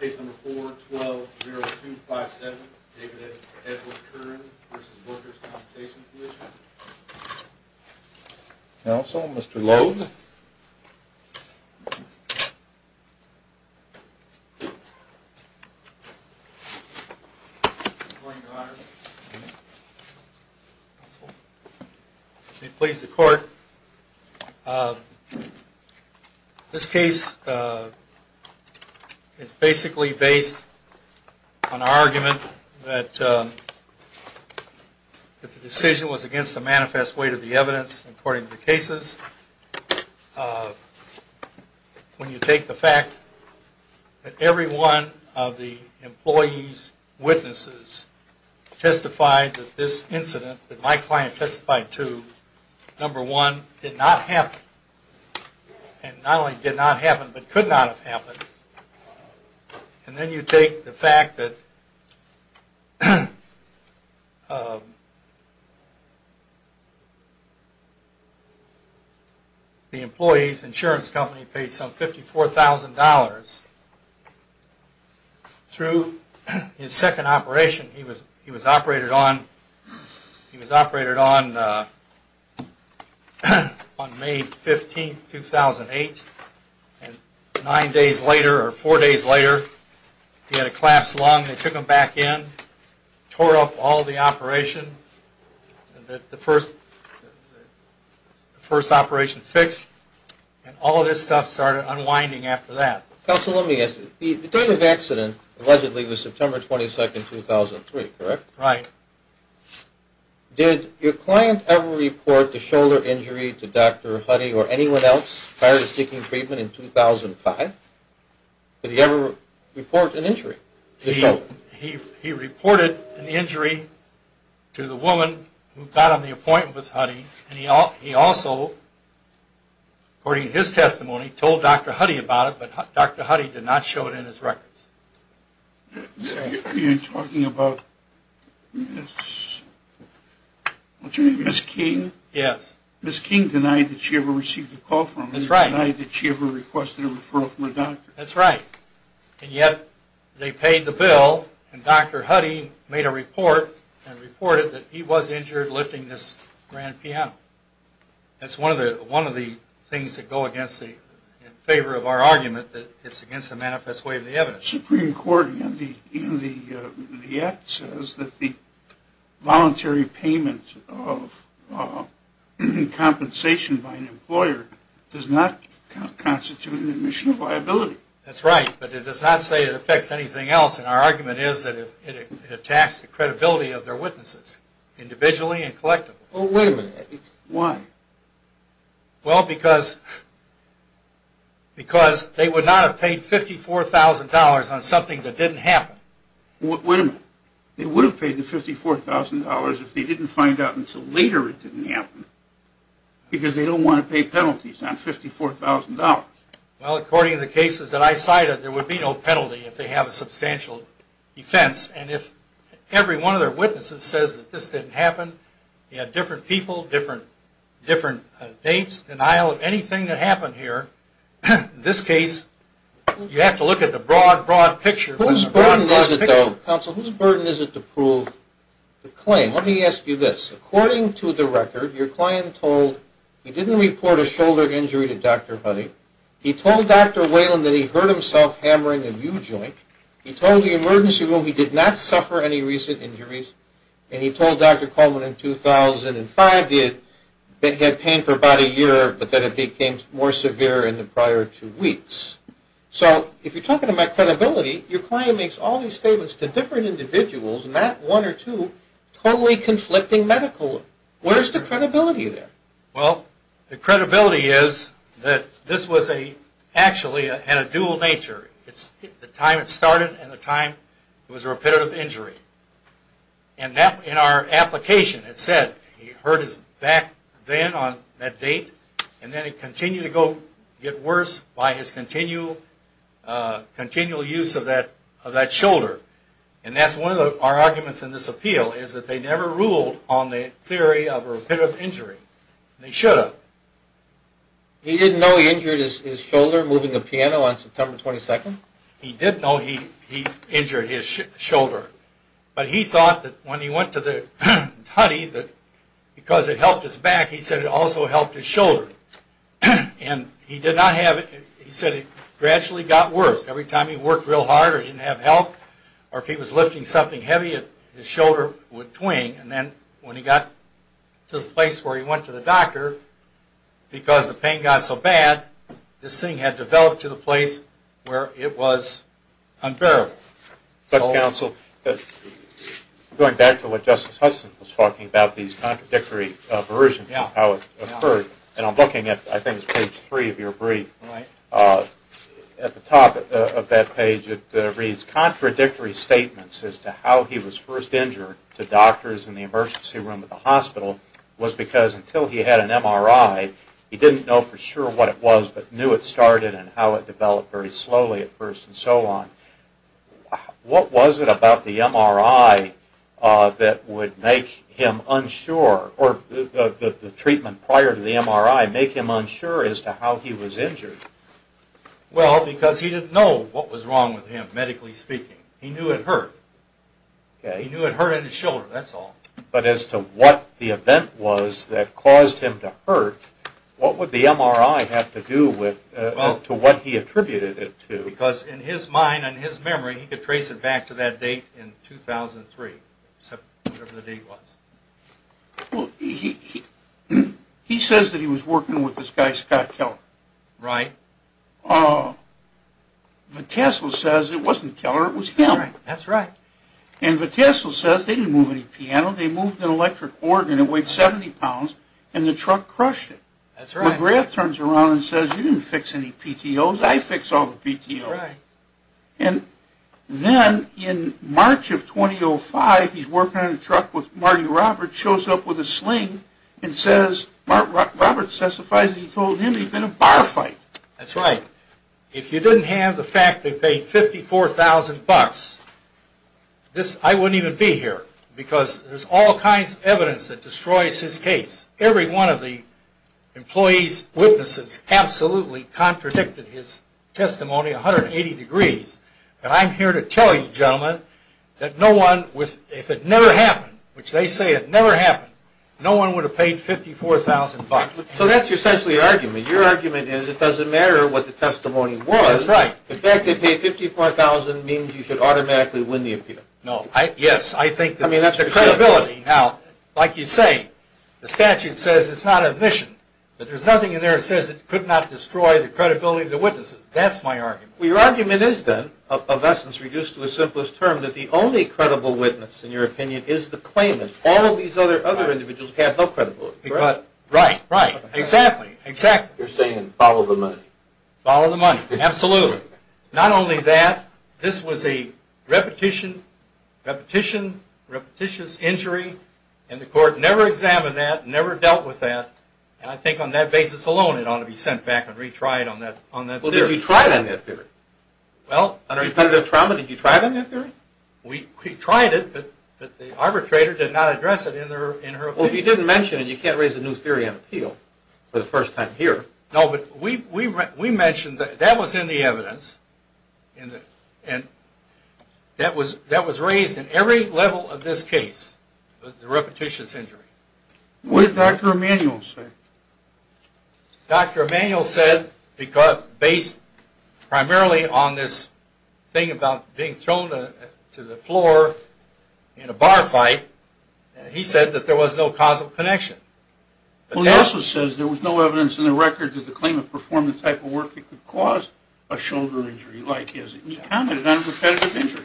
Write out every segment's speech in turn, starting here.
4-12-0257 David Edwards-Curran v. Workers' Compensation Comm'n It's basically based on our argument that the decision was against the manifest weight of the evidence according to the cases. When you take the fact that every one of the employees' witnesses testified that this incident that my client testified to, number one, did not happen, and then you take the fact that the employee's insurance company paid some $54,000 through his second operation. He was operated on May 15, 2008, and nine days later, or four days later, he had a collapsed lung. They took him back in, tore up all the operation, the first operation fixed, and all of this stuff started unwinding after that. Counsel, let me ask you, the time of accident allegedly was September 22, 2003, correct? Right. Did your client ever report a shoulder injury to Dr. Huddy or anyone else prior to seeking treatment in 2005? Did he ever report an injury? He reported an injury to the woman who got him the appointment with Huddy, and he also, according to his testimony, told Dr. Huddy about it, but Dr. Huddy did not show it in his records. Are you talking about Ms. King? Yes. Ms. King denied that she ever received a call from him. That's right. Denied that she ever requested a referral from a doctor. That's right. And yet, they paid the bill, and Dr. Huddy made a report and reported that he was injured lifting this grand piano. That's one of the things that go against the, in favor of our argument, that it's against the manifest way of the evidence. The Supreme Court in the act says that the voluntary payment of compensation by an employer does not constitute an admission of liability. That's right, but it does not say it affects anything else, and our argument is that it attacks the credibility of their witnesses, individually and collectively. Oh, wait a minute. Why? Well, because they would not have paid $54,000 on something that didn't happen. Wait a minute. They would have paid the $54,000 if they didn't find out until later it didn't happen, because they don't want to pay penalties on $54,000. Well, according to the cases that I cited, there would be no penalty if they have a substantial offense, and if every one of their witnesses says that this didn't happen, you have different people, different dates, denial of anything that happened here. In this case, you have to look at the broad, broad picture. Whose burden is it, though, counsel, whose burden is it to prove the claim? Let me ask you this. According to the record, your client told, he didn't report a shoulder injury to Dr. Huddy. He told Dr. Whalen that he hurt himself hammering a U-joint. He told the emergency room he did not suffer any recent injuries, and he told Dr. Coleman in 2005 that he had pain for about a year, but that it became more severe in the prior two weeks. So, if you're talking about credibility, your client makes all these statements to different individuals, and that one or two totally conflicting medically. What is the credibility there? Well, the credibility is that this was actually a dual nature. It's the time it started and the time it was a repetitive injury. And that, in our application, it said he hurt his back then on that date, and then it continued to get worse by his continual use of that shoulder. And that's one of our arguments in this appeal, is that they never ruled on the theory of a repetitive injury. They should have. He didn't know he injured his shoulder moving a piano on September 22nd? He did know he injured his shoulder. But he thought that when he went to Dr. Huddy, that because it helped his back, he said it also helped his shoulder. And he did not have it, he said it gradually got worse. Every time he worked real hard or didn't have help, or if he was lifting something heavy, his shoulder would twing. And then when he got to the place where he went to the doctor, because the pain got so bad, this thing had developed to the place where it was unbearable. But counsel, going back to what Justice Hudson was talking about, these contradictory versions of how it occurred, and I'm looking at, I think it's page three of your brief, at the top of that page it reads, contradictory statements as to how he was first injured to doctors in the emergency room at the hospital was because until he had an MRI, he didn't know for sure what it was, but knew it started and how it developed very slowly at first and so on. What was it about the MRI that would make him unsure, or the treatment prior to the MRI make him unsure as to how he was injured? Well, because he didn't know what was wrong with him, medically speaking. He knew it hurt. He knew it hurted his shoulder, that's all. But as to what the event was that caused him to hurt, what would the MRI have to do with, to what he attributed it to? Because in his mind and his memory, he could trace it back to that date in 2003. Except whatever the date was. Well, he says that he was working with this guy, Scott Keller. Right. Vitesla says it wasn't Keller, it was him. That's right. And Vitesla says they didn't move any piano, they moved an electric organ, it weighed 70 pounds, and the truck crushed it. That's right. McGrath turns around and says, you didn't fix any PTOs, I fixed all the PTOs. That's right. And then, in March of 2005, he's working on a truck with Marty Roberts, shows up with a sling, and says, Roberts testifies that he told him he'd been in a bar fight. That's right. If you didn't have the fact that he paid 54,000 bucks, I wouldn't even be here. Because there's all kinds of evidence that destroys his case. Every one of the employee's witnesses absolutely contradicted his testimony 180 degrees, and I'm here to tell you, gentlemen, that no one, if it never happened, which they say it never happened, no one would have paid 54,000 bucks. So that's essentially your argument. Your argument is it doesn't matter what the testimony was. That's right. The fact that they paid 54,000 means you should automatically win the appeal. No. Yes, I think that's the credibility. Now, like you say, the statute says it's not admission, but there's nothing in there that says it could not destroy the credibility of the witnesses. That's my argument. Well, your argument is, then, of essence reduced to the simplest term, that the only credible witness, in your opinion, is the claimant. All of these other individuals have no credibility. Right, right. Exactly, exactly. You're saying follow the money. Follow the money, absolutely. Not only that, this was a repetition, repetition, repetitious injury, and the court never examined that, never dealt with that, and I think on that basis alone it ought to be sent back and retried on that theory. Well, did you try it on that theory? Well, under impeditive trauma, did you try it on that theory? We tried it, but the arbitrator did not address it in her opinion. Well, if you didn't mention it, you can't raise a new theory on appeal for the first time here. No, but we mentioned that that was in the evidence, and that was raised in every level of this case, the repetitious injury. What did Dr. Emanuel say? Dr. Emanuel said, based primarily on this thing about being thrown to the floor in a bar fight, he said that there was no causal connection. Well, he also says there was no evidence in the record that the claimant performed the type of work that could cause a shoulder injury like his. He commented on a repetitive injury.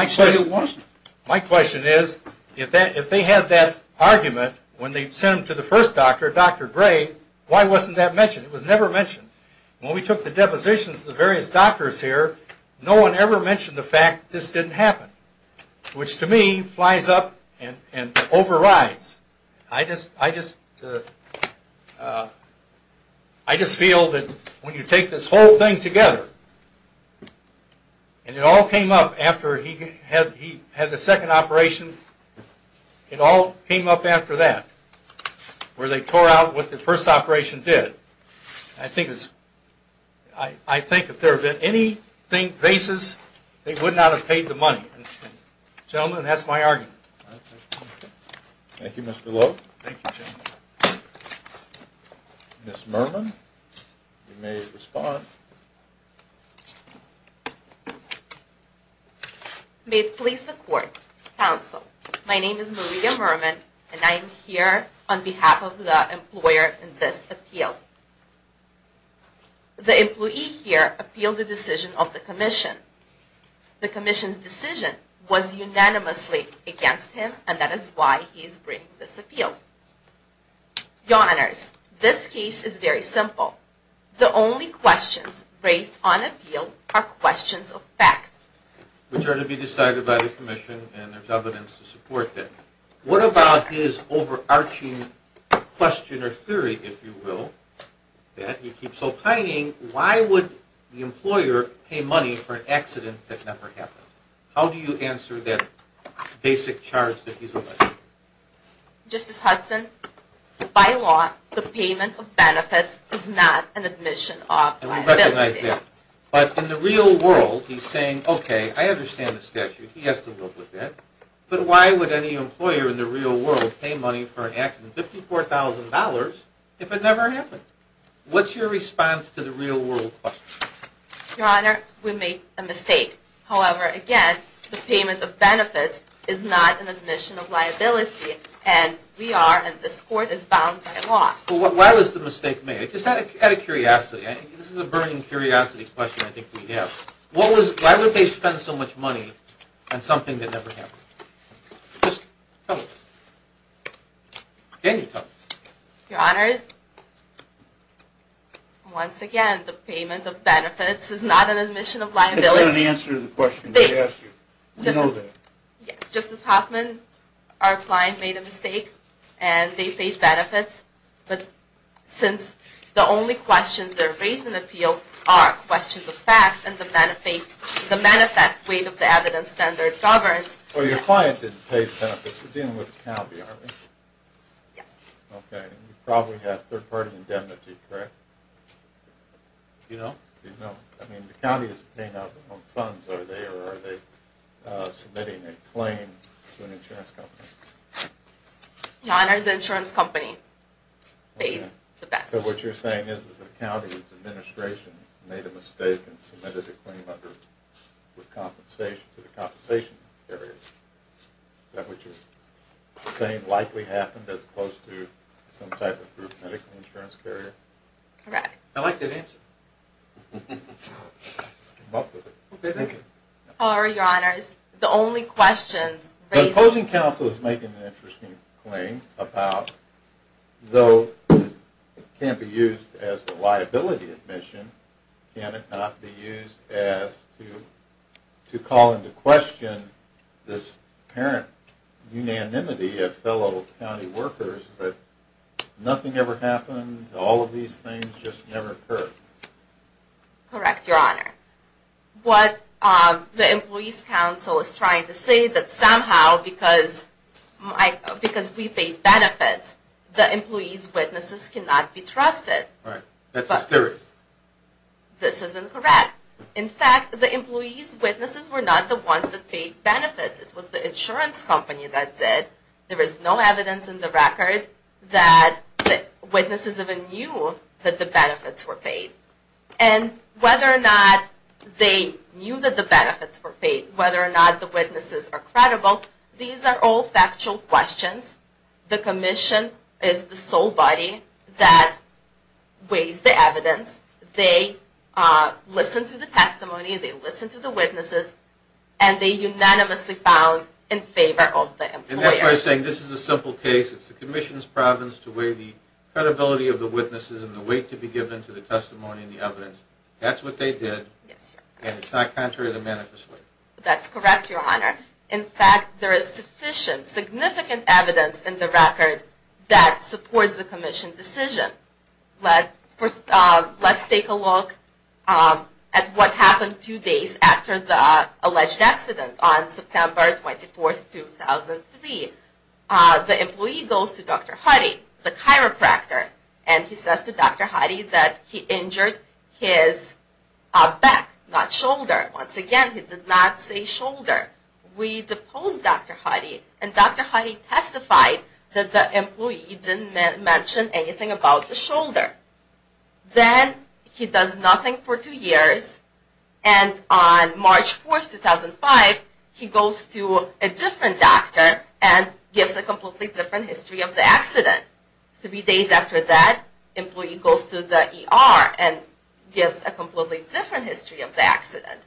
He said it wasn't. My question is, if they had that argument, when they sent him to the first doctor, Dr. Gray, why wasn't that mentioned? It was never mentioned. When we took the depositions of the various doctors here, no one ever mentioned the fact that this didn't happen, which to me flies up and overrides. I just feel that when you take this whole thing together, and it all came up after he had the second operation, and it all came up after that, where they tore out what the first operation did, I think if there had been any basis, they would not have paid the money. Gentlemen, that's my argument. Thank you, Mr. Lowe. Thank you, gentlemen. Ms. Mermin, you may respond. May it please the Court, Counsel. My name is Maria Mermin, and I am here on behalf of the employer in this appeal. The employee here appealed the decision of the Commission. The Commission's decision was unanimously against him, and that is why he is bringing this appeal. The only questions that we have, raised on appeal, are questions of fact. Which are to be decided by the Commission, and there's evidence to support that. What about his overarching question or theory, if you will, that he keeps opining, why would the employer pay money for an accident that never happened? How do you answer that basic charge that he's alleging? Justice Hudson, by law, the payment of benefits is not an admission of liability. But in the real world, he's saying, okay, I understand the statute. He has to live with that. But why would any employer in the real world pay money for an accident, $54,000, if it never happened? What's your response to the real world question? Your Honor, we made a mistake. However, again, the payment of benefits is not an admission of liability, and we are, and this Court is bound by law. Well, why was the mistake made? I just had a curiosity. This is a burning curiosity question I think we have. Why would they spend so much money on something that never happened? Just tell us. Daniel, tell us. Your Honor, once again, the payment of benefits is not an admission of liability. That's not an answer to the question I asked you. We know that. Justice Hoffman, our client made a mistake, and they paid benefits. But since the only questions that are raised in the appeal are questions of fact and the manifest weight of the evidence standard governs... Well, your client didn't pay the benefits. We're dealing with the county, aren't we? Yes. Okay. And you probably have third-party indemnity, correct? Do you know? Do you know? I mean, the county is paying out their own funds. Are they submitting a claim to an insurance company? Your Honor, the insurance company paid the benefits. So what you're saying is the county's administration made a mistake and submitted a claim to the compensation carrier. Is that what you're saying likely happened as opposed to some type of group medical insurance carrier? Correct. I like that answer. I just came up with it. Okay, thank you. Your Honor, the only questions The opposing counsel is making an interesting claim about though it can't be used as a liability admission can it not be used as to call into question this apparent unanimity of fellow county workers that nothing ever happened all of these things just never occurred. Correct, Your Honor. What the employee's counsel is trying to say that somehow because we paid benefits the employee's witnesses cannot be trusted. That's hysterical. This is incorrect. In fact, the employee's witnesses were not the ones that paid benefits. It was the insurance company that did. There is no evidence in the record that witnesses even knew that the benefits were paid. And whether or not they knew that the benefits were paid, whether or not the witnesses are credible, these are all factual questions. The Commission is the sole body that weighs the evidence. They listen to the testimony. They listen to the witnesses. And they unanimously found in favor of the employer. And that's why I'm saying this is a simple case. It's the Commission's province to weigh the credibility of the witnesses and the weight to be given to the testimony and the evidence. That's what they did. And it's not contrary to the manifesto. That's correct, Your Honor. In fact, there is sufficient, significant evidence in the record that supports the Commission's decision. Let's take a look at what happened two days after the alleged accident on September 24, 2003. The employee goes to Dr. Hardy, the chiropractor, and he says to Dr. Hardy that he injured his back, not shoulder. Once again, he did not say shoulder. We deposed Dr. Hardy and Dr. Hardy testified that the employee didn't mention anything about the shoulder. Then, he does nothing for two years and on March 4, 2005, he goes to a different doctor and gives a completely different history of the accident. Three days after that, the employee goes to the ER and gives a completely different history of the accident.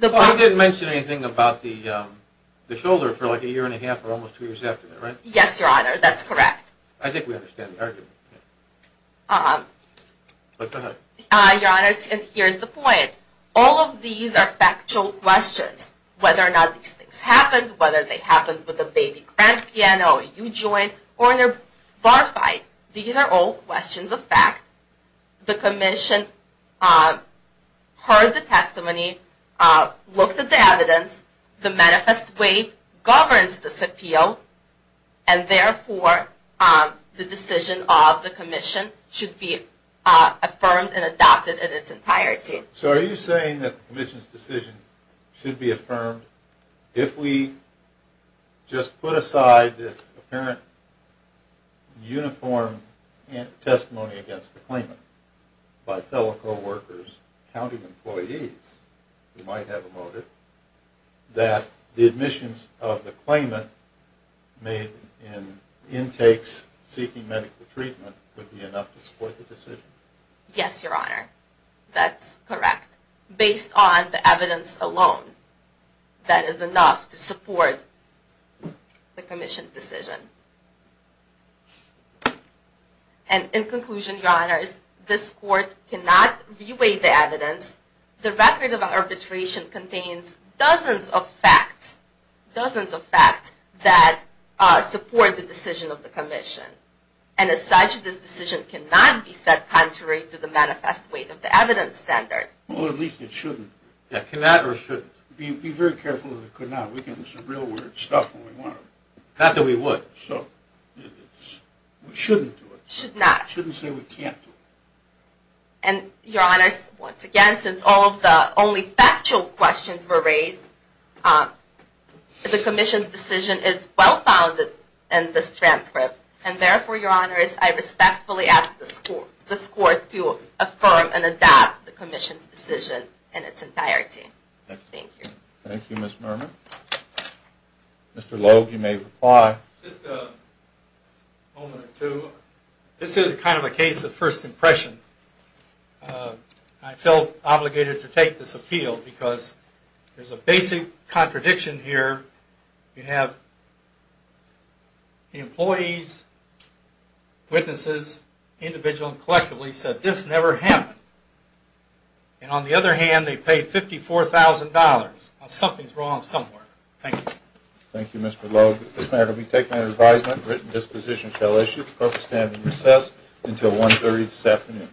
He didn't mention anything about the shoulder for like a year and a half or almost two years after that, right? Yes, Your Honor, that's correct. I think we understand the argument. Your Honor, here's the point. All of these are factual questions. Whether or not these things happened, whether they happened with a baby grand piano, a huge joint, or in a bar fight, these are all questions of fact. The Commission heard the testimony, looked at the evidence, the manifest weight governs this appeal, and therefore the decision of the Commission should be affirmed and adopted in its entirety. So are you saying that the Commission's decision should be affirmed if we just put aside this apparent uniform testimony against the claimant by fellow co-workers and county employees who might have a motive that the admissions of the claimant made in intakes seeking medical treatment would be enough to support the decision? Yes, Your Honor, that's correct. Based on the evidence alone that is enough to support the Commission's decision. And in conclusion, Your Honor, this Court cannot reweigh the evidence. The record of arbitration contains dozens of facts that support the decision of the Commission. And as such, this decision cannot be set contrary to the manifest weight of the evidence standard. Well, at least it shouldn't. Be very careful of the could not. Not that we would. We shouldn't do it. We shouldn't say we can't do it. And, Your Honor, once again, since all of the only factual questions were raised, the Commission's decision is well-founded in this transcript, and therefore, Your Honor, I respectfully ask this Court to affirm and adopt the Commission's decision in its entirety. Thank you. Thank you, Ms. Mermin. Mr. Logue, you may reply. Just a moment or two. This is kind of a case of first impression. I felt obligated to take this appeal because there's a basic contradiction here. You have the employees, witnesses, individual and collectively said, this never happened. And, on the other hand, they paid $54,000. Something's wrong somewhere. Thank you. Thank you, Mr. Logue. This matter will be taken under advisement. Written disposition shall issue. Court will stand in recess until 1.30 this afternoon.